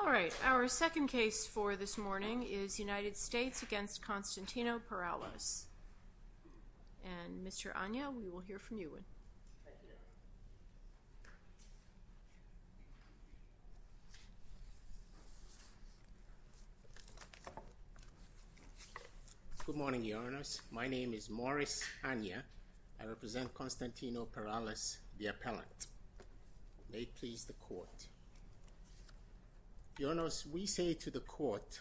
All right, our second case for this morning is United States v. Constantino Perales. And Mr. Anya, we will hear from you. Good morning, Your Honors. My name is Morris Anya. I represent Constantino Perales, the appellant. May it please the Court. Your Honors, we say to the Court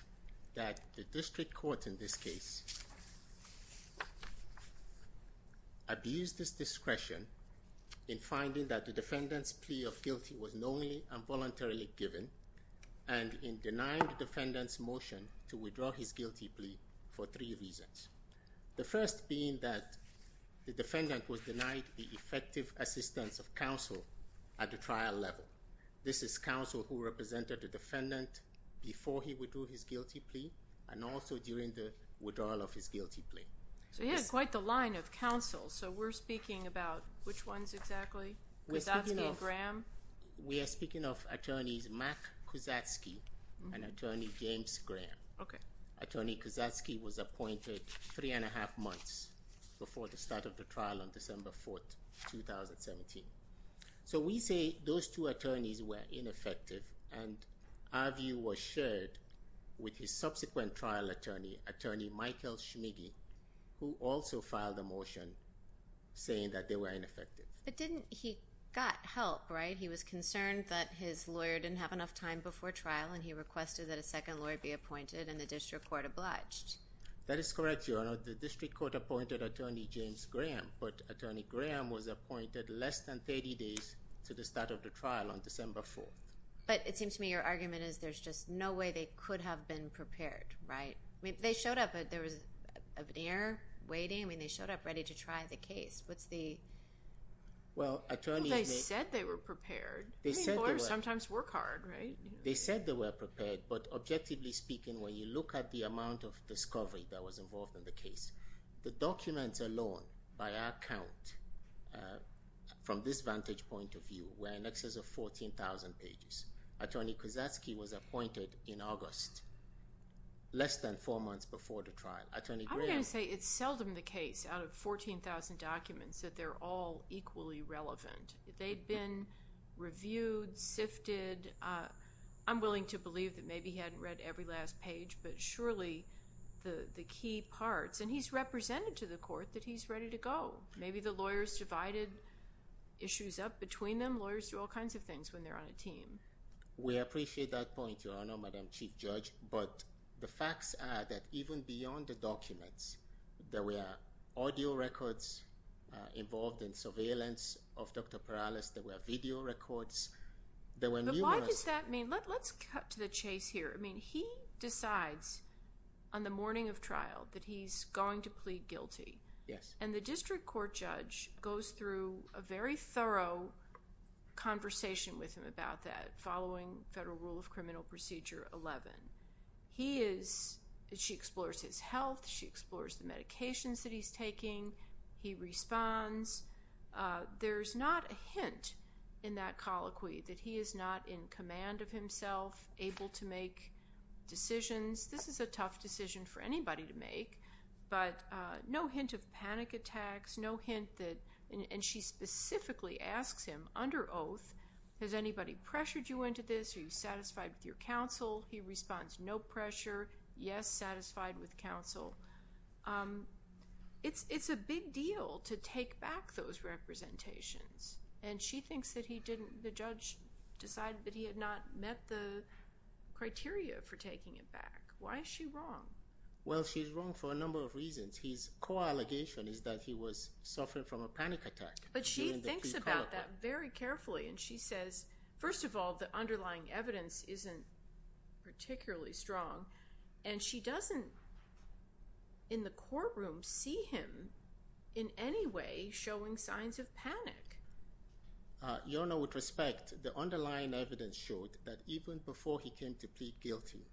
that the District Court in this case abused its discretion in finding that the defendant's plea of guilty was knowingly and voluntarily given, and in denying the defendant's motion to withdraw his guilty plea for three reasons. The first being that the defendant was denied the effective assistance of counsel at the trial level. This is counsel who represented the defendant before he withdrew his guilty plea, and also during the withdrawal of his guilty plea. So you had quite the line of counsel. So we're speaking about which ones exactly, Kuzatsky and Graham? We are speaking of attorneys Mark Kuzatsky and attorney James Graham. Okay. Attorney Kuzatsky was appointed three and a half months before the start of the trial on December 4, 2017. So we say those two attorneys were ineffective, and our view was shared with his subsequent trial attorney, attorney Michael Schmiggy, who also filed a motion saying that they were ineffective. But didn't he got help, right? He was concerned that his lawyer didn't have enough time before trial, and he requested that a second lawyer be appointed, and the District Court obliged. That is correct, Your Honor. The District Court appointed attorney James Graham, but attorney Graham was appointed less than 30 days to the start of the trial on December 4. But it seems to me your argument is there's just no way they could have been prepared, right? I mean, they showed up, but there was an error waiting. I mean, they showed up ready to try the case. What's the... Well, attorney... Well, they said they were prepared. They said they were... I mean, lawyers sometimes work hard, right? They said they were prepared, but objectively speaking, when you look at the amount of discovery that was involved in the case, the documents alone, by our count, from this vantage point of view, were in excess of 14,000 pages. Attorney Kozacki was appointed in August, less than four months before the trial. Attorney Graham... I'm going to say it's seldom the case out of 14,000 documents that they're all equally relevant. They'd been reviewed, sifted. I'm willing to believe that maybe he hadn't read every last page, but surely the key parts... And he's represented to the court that he's ready to go. Maybe the lawyers divided issues up between them. Lawyers do all kinds of things when they're on a team. We appreciate that point, Your Honor, Madam Chief Judge. But the facts are that even beyond the documents, there were audio records involved in surveillance of Dr. Perales. There were video records. But why does that mean... Let's cut to the chase here. He decides on the morning of trial that he's going to plead guilty. And the district court judge goes through a very thorough conversation with him about that following Federal Rule of Criminal Procedure 11. She explores his health. She explores the medications that he's taking. He responds. There's not a hint in that colloquy that he is not in command of himself, able to make decisions. This is a tough decision for anybody to make, but no hint of panic attacks, no hint that... And she specifically asks him, under oath, has anybody pressured you into this? Are you satisfied with your counsel? He responds, no pressure, yes, satisfied with counsel. It's a big deal to take back those representations. And she thinks that he didn't... The judge decided that he had not met the criteria for taking it back. Why is she wrong? Well, she's wrong for a number of reasons. His co-allegation is that he was suffering from a panic attack during the pre-colloquy. But she thinks about that very carefully, and she says, first of all, the underlying evidence isn't particularly strong. And she doesn't, in the courtroom, see him in any way showing signs of panic. Your Honor, with respect, the underlying evidence showed that even before he came to plead guilty,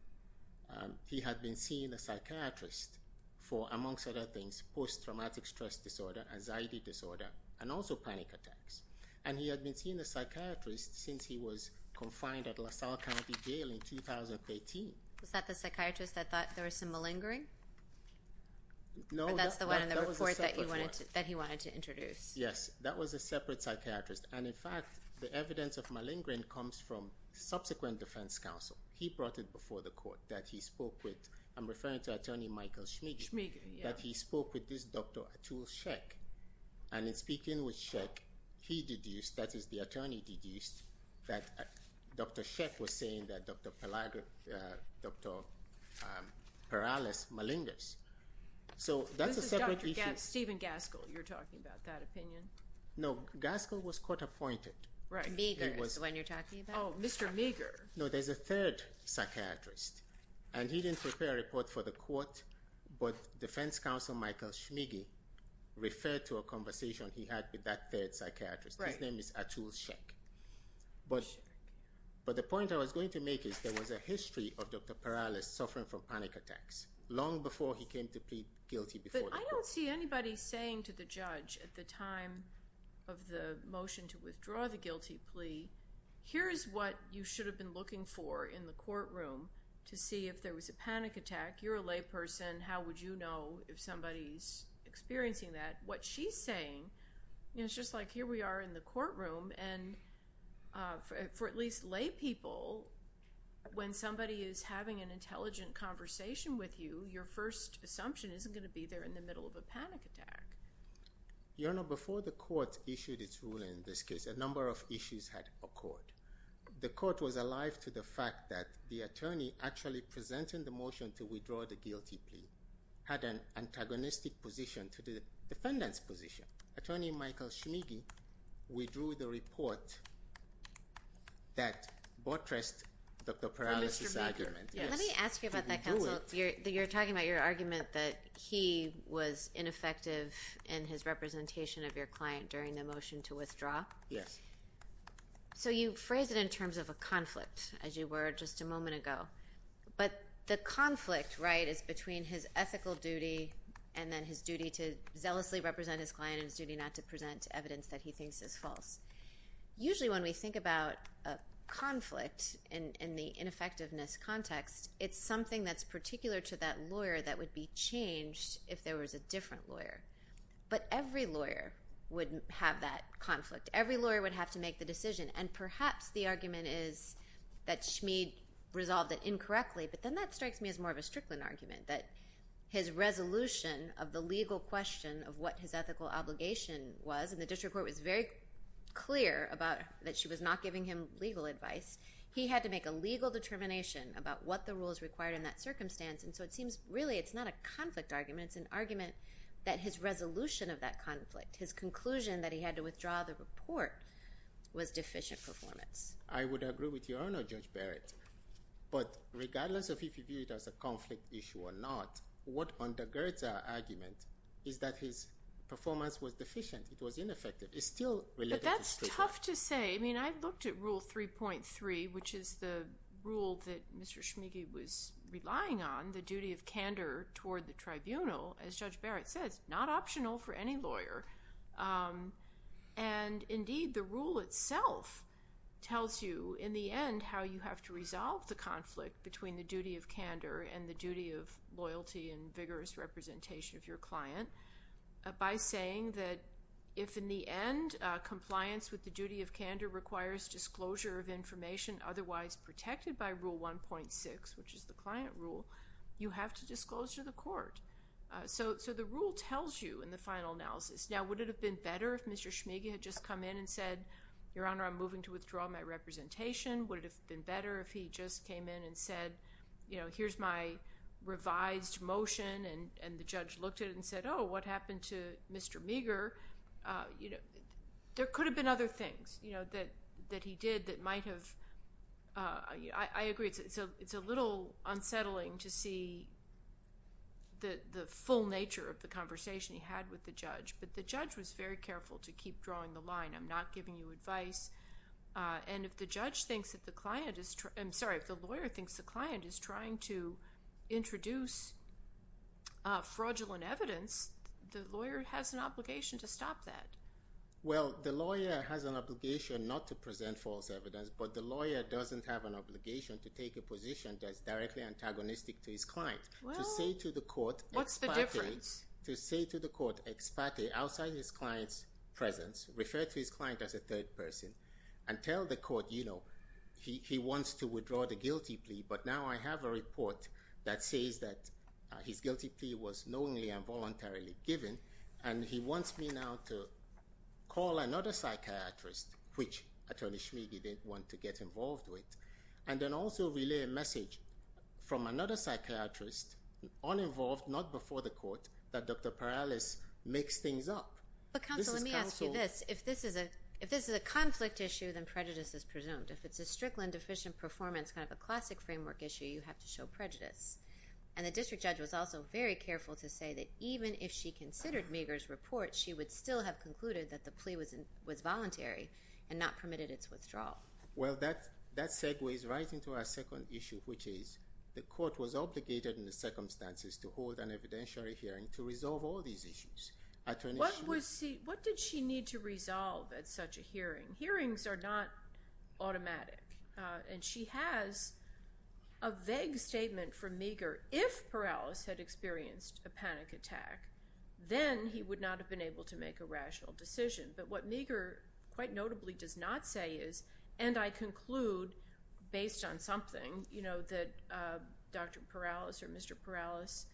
he had been seeing a psychiatrist for, amongst other things, post-traumatic stress disorder, anxiety disorder, and also panic attacks. And he had been seeing a psychiatrist since he was confined at LaSalle County Jail in 2013. Was that the psychiatrist that thought there was some malingering? No. But that's the one in the report that he wanted to introduce. Yes. That was a separate psychiatrist. And, in fact, the evidence of malingering comes from subsequent defense counsel. He brought it before the court that he spoke with... I'm referring to Attorney Michael Schmigy. Schmigy, yeah. That he spoke with this Dr. Atul Shek. And in speaking with Shek, he deduced, that is, the attorney deduced, that Dr. Shek was Dr. Paralys Malingers. So that's a separate issue. This is Dr. Steven Gaskell, you're talking about, that opinion? No. Gaskell was court-appointed. Right. Meagher is the one you're talking about? Oh, Mr. Meagher. No, there's a third psychiatrist. And he didn't prepare a report for the court, but defense counsel Michael Schmigy referred to a conversation he had with that third psychiatrist. Right. His name is Atul Shek. But the point I was going to make is, there was a history of Dr. Paralys suffering from panic attacks, long before he came to plead guilty before the court. But I don't see anybody saying to the judge at the time of the motion to withdraw the guilty plea, here is what you should have been looking for in the courtroom to see if there was a panic attack. You're a layperson, how would you know if somebody's experiencing that? What she's saying, it's just like here we are in the courtroom, and for at least lay people, when somebody is having an intelligent conversation with you, your first assumption isn't going to be they're in the middle of a panic attack. Your Honor, before the court issued its ruling in this case, a number of issues had occurred. The court was alive to the fact that the attorney actually presenting the motion to withdraw the guilty plea had an antagonistic position to the defendant's position. Attorney Michael Shmiggy withdrew the report that buttressed Dr. Paralys' argument. Mr. Shmiggy, let me ask you about that counsel. You're talking about your argument that he was ineffective in his representation of your client during the motion to withdraw? Yes. So you phrased it in terms of a conflict, as you were just a moment ago. But the conflict, right, is between his ethical duty and then his duty to zealously represent his client and his duty not to present evidence that he thinks is false. Usually when we think about a conflict in the ineffectiveness context, it's something that's particular to that lawyer that would be changed if there was a different lawyer. But every lawyer would have that conflict. Every lawyer would have to make the decision. And perhaps the argument is that Shmiggy resolved it incorrectly, but then that strikes me as more of a Strickland argument, that his resolution of the legal question of what his ethical obligation was, and the district court was very clear about that she was not giving him legal advice. He had to make a legal determination about what the rules required in that circumstance. And so it seems really it's not a conflict argument, it's an argument that his resolution of that conflict, his conclusion that he had to withdraw the report, was deficient performance. I would agree with you, Your Honor, Judge Barrett. But regardless of if you view it as a conflict issue or not, what undergirds our argument is that his performance was deficient, it was ineffective, it's still related to Strickland. But that's tough to say. I mean, I've looked at Rule 3.3, which is the rule that Mr. Shmiggy was relying on, the duty of candor toward the tribunal, as Judge Barrett says, not optional for any lawyer. And indeed, the rule itself tells you, in the end, how you have to resolve the conflict between the duty of candor and the duty of loyalty and vigorous representation of your client by saying that if, in the end, compliance with the duty of candor requires disclosure of information otherwise protected by Rule 1.6, which is the client rule, you have to disclose to the court. So the rule tells you, in the final analysis, now would it have been better if Mr. Shmiggy had just come in and said, Your Honor, I'm moving to withdraw my representation, would it have been better if he just came in and said, you know, here's my revised motion, and the judge looked at it and said, oh, what happened to Mr. Meagher? You know, there could have been other things, you know, that he did that might have, I agree, it's a little unsettling to see the full nature of the conversation he had with the judge, but the judge was very careful to keep drawing the line, I'm not giving you advice, and if the judge thinks that the client is, I'm sorry, if the lawyer thinks the client is trying to introduce fraudulent evidence, the lawyer has an obligation to stop that. Well, the lawyer has an obligation not to present false evidence, but the lawyer doesn't have an obligation to take a position that's directly antagonistic to his client. Well, what's the difference? To say to the court, expate, outside his client's presence, refer to his client as a third person, and tell the court, you know, he wants to withdraw the guilty plea, but now I have a report that says that his guilty plea was knowingly and voluntarily given, and he wants me now to call another psychiatrist, which Attorney Schmid didn't want to get involved with, and then also relay a message from another psychiatrist, uninvolved, not before the court, that Dr. Perales mixed things up. But counsel, let me ask you this. If this is a conflict issue, then prejudice is presumed. If it's a strict and deficient performance, kind of a classic framework issue, you have to show prejudice, and the district judge was also very careful to say that even if she considered Meagher's report, she would still have concluded that the plea was voluntary and not permitted its withdrawal. Well, that segues right into our second issue, which is the court was obligated in the circumstances to hold an evidentiary hearing to resolve all these issues. What did she need to resolve at such a hearing? Hearings are not automatic, and she has a vague statement from Meagher. If Perales had experienced a panic attack, then he would not have been able to make a rational decision. But what Meagher quite notably does not say is, and I conclude based on something, you know, that Dr. Perales or Mr. Perales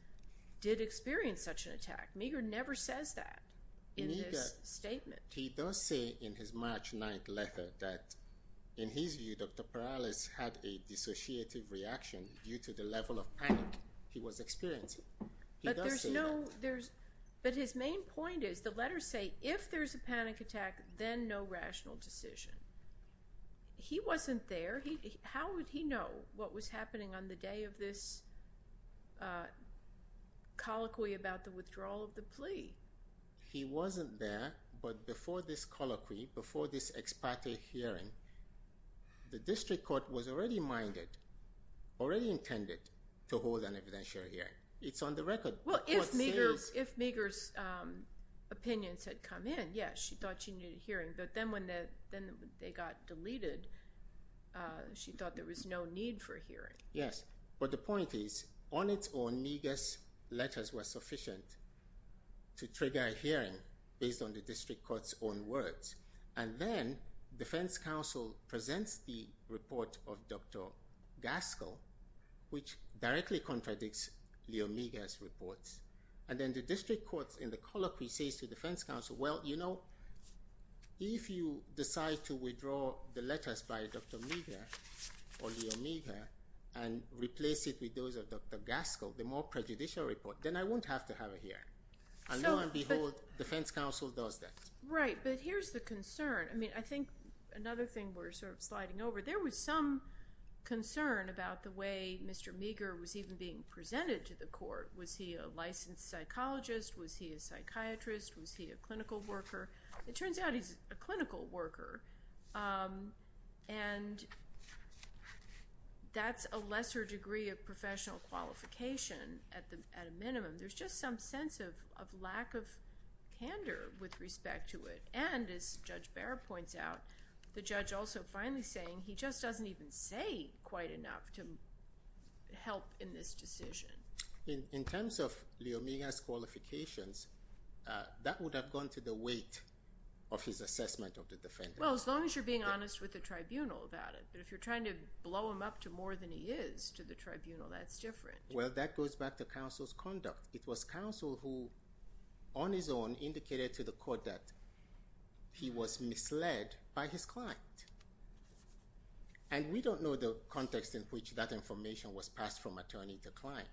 did experience such an attack. Meagher never says that in this statement. He does say in his March 9th letter that in his view, Dr. Perales had a dissociative reaction due to the level of panic he was experiencing. But there's no, there's, but his main point is, the letters say, if there's a panic attack, then no rational decision. He wasn't there. How would he know what was happening on the day of this colloquy about the withdrawal of the plea? He wasn't there, but before this colloquy, before this ex parte hearing, the district court was already minded, already intended to hold an evidentiary hearing. It's on the record. Well, if Meagher's, if Meagher's opinions had come in, yes, she thought she needed a she thought there was no need for a hearing. Yes, but the point is, on its own, Meagher's letters were sufficient to trigger a hearing based on the district court's own words. And then defense counsel presents the report of Dr. Gaskell, which directly contradicts Leo Meagher's reports. And then the district court in the colloquy says to defense counsel, well, you know, if you decide to withdraw the letters by Dr. Meagher or Leo Meagher and replace it with those of Dr. Gaskell, the more prejudicial report, then I won't have to have a hearing. And lo and behold, defense counsel does that. Right, but here's the concern. I mean, I think another thing we're sort of sliding over, there was some concern about the way Mr. Meagher was even being presented to the court. Was he a licensed psychologist? Was he a psychiatrist? Was he a clinical worker? It turns out he's a clinical worker, and that's a lesser degree of professional qualification at a minimum. There's just some sense of lack of candor with respect to it. And as Judge Barrett points out, the judge also finally saying he just doesn't even say quite enough to help in this decision. In terms of Leo Meagher's qualifications, that would have gone to the weight of his assessment of the defendant. Well, as long as you're being honest with the tribunal about it. But if you're trying to blow him up to more than he is to the tribunal, that's different. Well, that goes back to counsel's conduct. It was counsel who, on his own, indicated to the court that he was misled by his client. And we don't know the context in which that information was passed from attorney to client.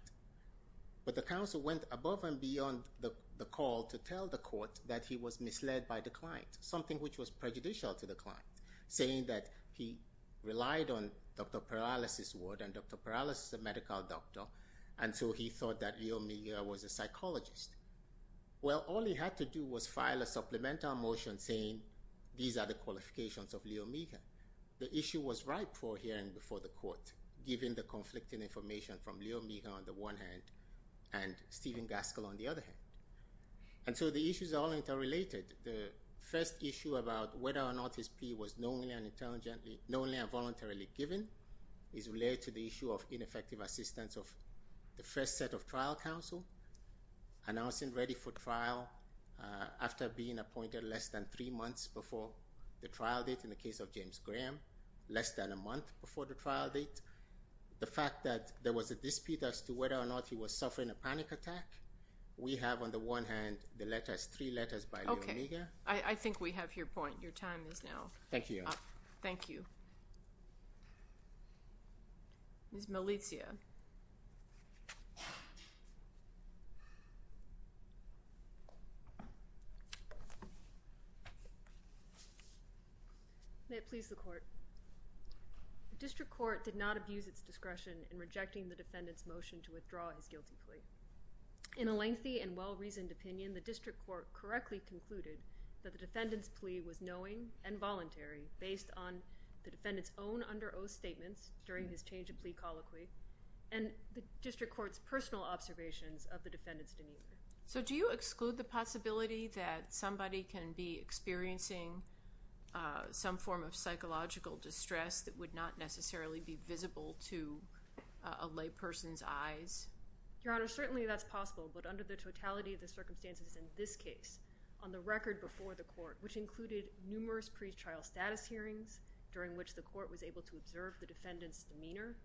But the counsel went above and beyond the call to tell the court that he was misled by the client, something which was prejudicial to the client, saying that he relied on Dr. Paralysis Ward, and Dr. Paralysis is a medical doctor, and so he thought that Leo Meagher was a psychologist. Well, all he had to do was file a supplemental motion saying, these are the qualifications of Leo Meagher. The issue was ripe for hearing before the court, given the conflicting information from Leo Meagher on the one hand, and Stephen Gaskell on the other hand. And so the issues are all interrelated. The first issue about whether or not his plea was known and intelligently, known and voluntarily given is related to the issue of ineffective assistance of the first set of trial counsel, announcing ready for trial after being appointed less than three months before the trial date in the case of James Graham, less than a month before the trial date. The fact that there was a dispute as to whether or not he was suffering a panic attack, we have on the one hand the letters, three letters by Leo Meagher. I think we have your point. Your time is now up. Thank you. Thank you. Ms. Melizia. May it please the court. The district court did not abuse its discretion in rejecting the defendant's motion to withdraw his guilty plea. In a lengthy and well-reasoned opinion, the district court correctly concluded that the defendant's plea was knowing and voluntary based on the defendant's own under oath statements during his change of plea colloquy and the district court's personal observations of the defendant's demeanor. So do you exclude the possibility that somebody can be experiencing some form of psychological distress that would not necessarily be visible to a lay person's eyes? Your Honor, certainly that's possible, but under the totality of the circumstances in this case, on the record before the court, which included numerous pre-trial status hearings during which the court was able to observe the defendant's demeanor,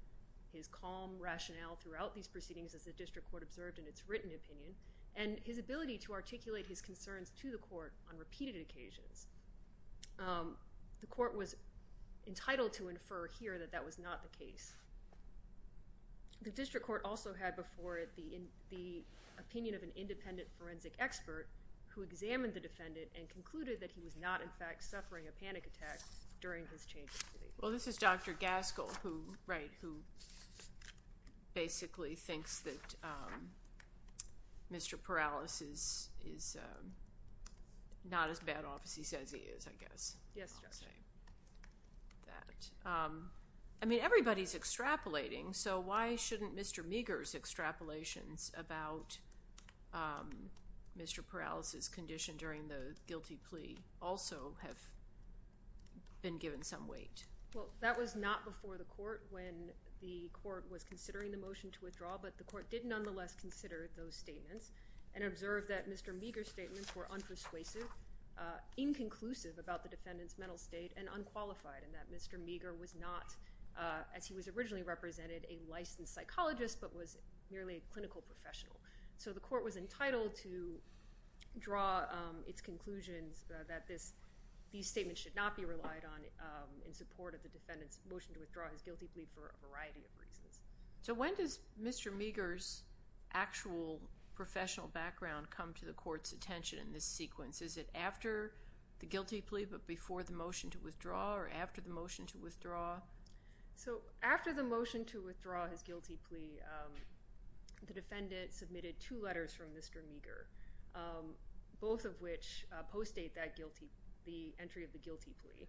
his calm rationale throughout these proceedings as the district court observed in its written opinion, and his ability to articulate his concerns to the court on repeated occasions, the court was entitled to infer here that that was not the case. The district court also had before it the opinion of an independent forensic expert who examined the defendant and concluded that he was not in fact suffering a panic attack during his change of plea. Well, this is Dr. Gaskell, who basically thinks that Mr. Perales is not as bad off as he says he is, I guess. Yes, Judge. I'll say that. I mean, everybody's extrapolating, so why shouldn't Mr. Meager's extrapolations about Mr. Perales's condition during the guilty plea also have been given some weight? Well, that was not before the court when the court was considering the motion to withdraw, but the court did nonetheless consider those statements and observed that Mr. Meager's statements were unpersuasive, inconclusive about the defendant's mental state, and unqualified in that Mr. Meager was not, as he was originally represented, a licensed psychologist but was merely a clinical professional. So the court was entitled to draw its conclusions that these statements should not be relied on in support of the defendant's motion to withdraw his guilty plea for a variety of reasons. So when does Mr. Meager's actual professional background come to the court's attention in this sequence? Is it after the guilty plea but before the motion to withdraw, or after the motion to withdraw? So after the motion to withdraw his guilty plea, the defendant submitted two letters from Mr. Meager, both of which post-date the entry of the guilty plea.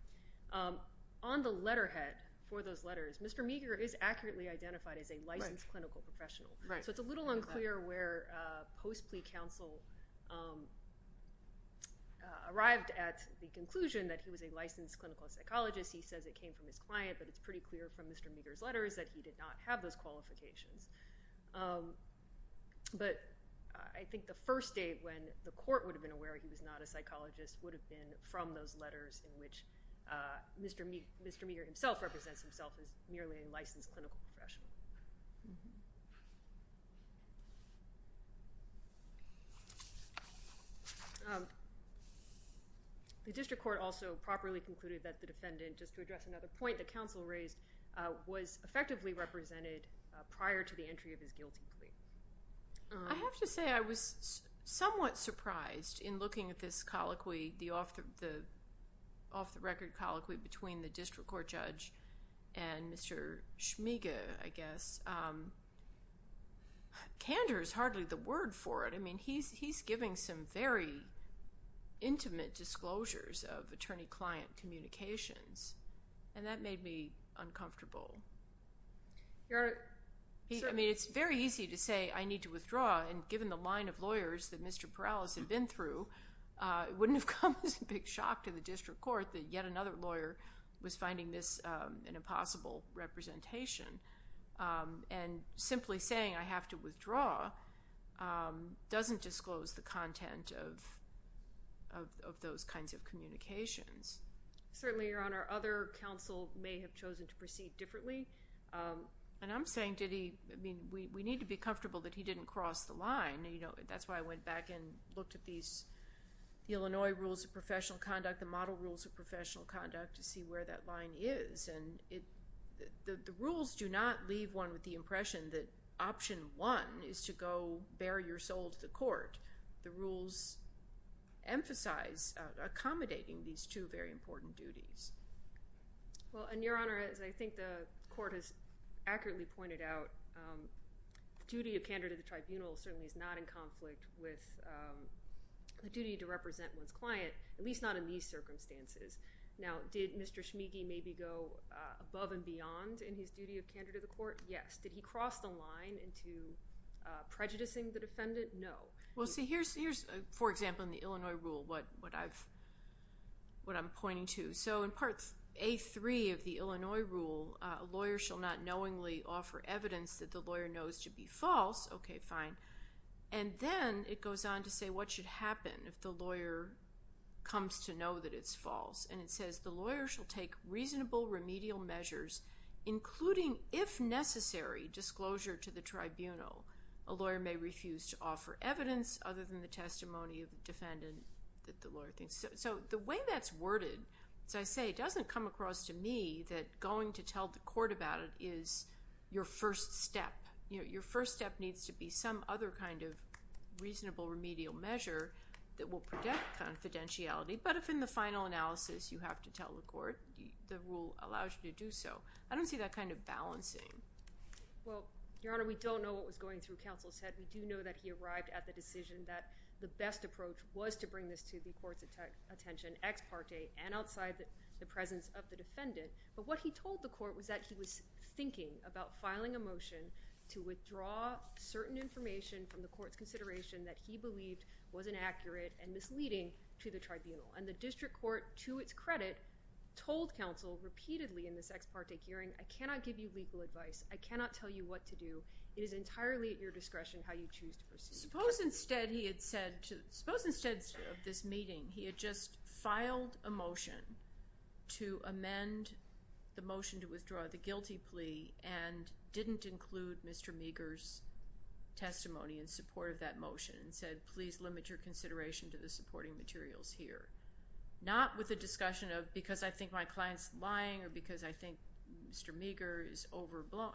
On the letterhead for those letters, Mr. Meager is accurately identified as a licensed clinical professional. So it's a little unclear where post-plea counsel arrived at the conclusion that he was a licensed clinical psychologist. He says it came from his client, but it's pretty clear from Mr. Meager's letters that he did not have those qualifications. But I think the first date when the court would have been aware he was not a psychologist would have been from those letters in which Mr. Meager himself represents himself as merely a licensed clinical professional. The district court also properly concluded that the defendant, just to address another point that counsel raised, was effectively represented prior to the entry of his guilty plea. I have to say I was somewhat surprised in looking at this colloquy, the off-the-record colloquy between the district court judge and Mr. Schmiege, I guess. Candor is hardly the word for it. I mean, he's giving some very intimate disclosures of attorney-client communications, and that made me uncomfortable. I mean, it's very easy to say, I need to withdraw, and given the line of lawyers that Mr. Perales had been through, it wouldn't have come as a big shock to the district court that yet another lawyer was finding this an impossible representation. And simply saying, I have to withdraw, doesn't disclose the content of those kinds of communications. Certainly, Your Honor, other counsel may have chosen to proceed differently. And I'm saying, did he, I mean, we need to be comfortable that he didn't cross the line. That's why I went back and looked at these, the Illinois Rules of Professional Conduct, the Model Rules of Professional Conduct, to see where that line is. And the rules do not leave one with the impression that option one is to go bare your soul to the court. The rules emphasize accommodating these two very important duties. Well, and Your Honor, as I think the court has accurately pointed out, the duty of candor to the tribunal certainly is not in conflict with the duty to represent one's client, at least in these circumstances. Now, did Mr. Schmigy maybe go above and beyond in his duty of candor to the court? Yes. Did he cross the line into prejudicing the defendant? No. Well, see, here's, for example, in the Illinois Rule, what I'm pointing to. So in Part A3 of the Illinois Rule, a lawyer shall not knowingly offer evidence that the lawyer knows to be false, okay, fine, and then it goes on to say what should happen if the lawyer comes to know that it's false. And it says the lawyer shall take reasonable remedial measures, including, if necessary, disclosure to the tribunal. A lawyer may refuse to offer evidence other than the testimony of the defendant that the lawyer thinks. So the way that's worded, as I say, doesn't come across to me that going to tell the court about it is your first step. Your first step needs to be some other kind of reasonable remedial measure that will protect confidentiality, but if in the final analysis you have to tell the court, the rule allows you to do so. I don't see that kind of balancing. Well, Your Honor, we don't know what was going through counsel's head. We do know that he arrived at the decision that the best approach was to bring this to the court's attention, ex parte, and outside the presence of the defendant, but what he to withdraw certain information from the court's consideration that he believed was inaccurate and misleading to the tribunal. And the district court, to its credit, told counsel repeatedly in this ex parte hearing, I cannot give you legal advice, I cannot tell you what to do, it is entirely at your discretion how you choose to proceed. Suppose instead he had said, suppose instead of this meeting he had just filed a motion to amend the motion to withdraw the guilty plea and didn't include Mr. Meagher's testimony in support of that motion and said please limit your consideration to the supporting materials here. Not with a discussion of because I think my client's lying or because I think Mr. Meagher is overblown,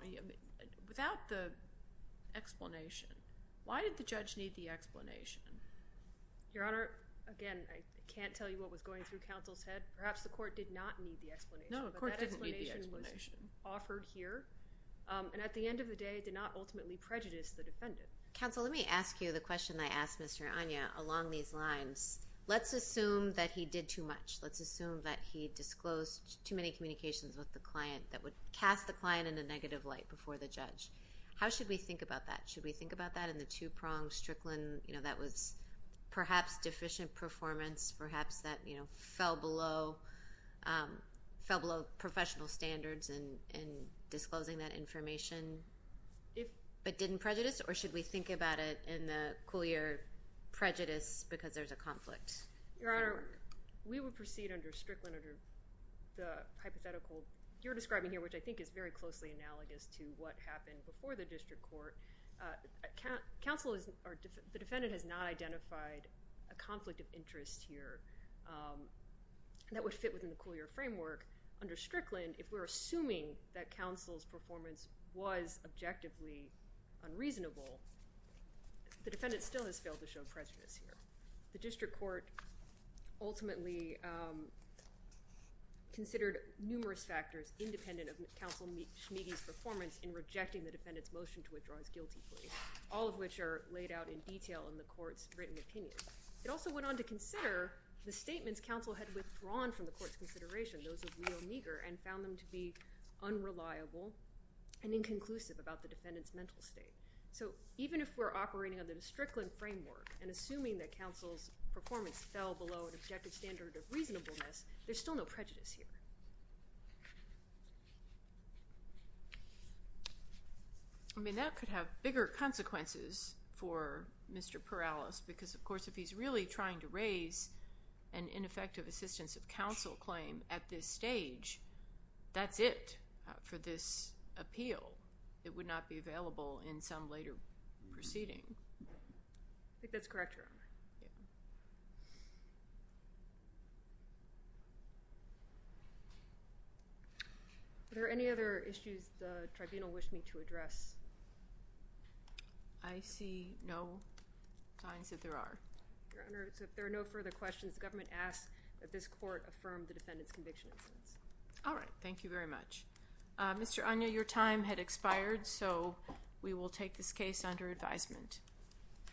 without the explanation. Why did the judge need the explanation? Your Honor, again, I can't tell you what was going through counsel's head. Perhaps the court did not need the explanation. No, the court didn't need the explanation. But that explanation was offered here and at the end of the day did not ultimately prejudice the defendant. Counsel, let me ask you the question I asked Mr. Anya along these lines. Let's assume that he did too much. Let's assume that he disclosed too many communications with the client that would cast the client in a negative light before the judge. How should we think about that? Should we think about that in the two-pronged Strickland, you know, that was perhaps deficient performance, perhaps that, you know, fell below professional standards in disclosing that information but didn't prejudice or should we think about it in the Coulier prejudice because there's a conflict? Your Honor, we would proceed under Strickland under the hypothetical you're describing here which I think is very closely analogous to what happened before the district court. Counsel is, the defendant has not identified a conflict of interest here that would fit within the Coulier framework. Under Strickland, if we're assuming that counsel's performance was objectively unreasonable, the defendant still has failed to show prejudice here. The district court ultimately considered numerous factors independent of counsel's performance in rejecting the defendant's motion to withdraw his guilty plea, all of which are laid out in detail in the court's written opinion. It also went on to consider the statements counsel had withdrawn from the court's consideration, those of Leo Neger, and found them to be unreliable and inconclusive about the defendant's mental state. So even if we're operating under the Strickland framework and assuming that counsel's performance fell below an objective standard of reasonableness, there's still no prejudice here. I mean, that could have bigger consequences for Mr. Perales because, of course, if he's really trying to raise an ineffective assistance of counsel claim at this stage, that's it for this appeal. It would not be available in some later proceeding. I think that's correct, Your Honor. Are there any other issues the tribunal wished me to address? I see no signs that there are. Your Honor, so if there are no further questions, the government asks that this court affirm the defendant's conviction. All right. Thank you very much. Mr. Agnew, your time had expired, so we will take this case under advisement.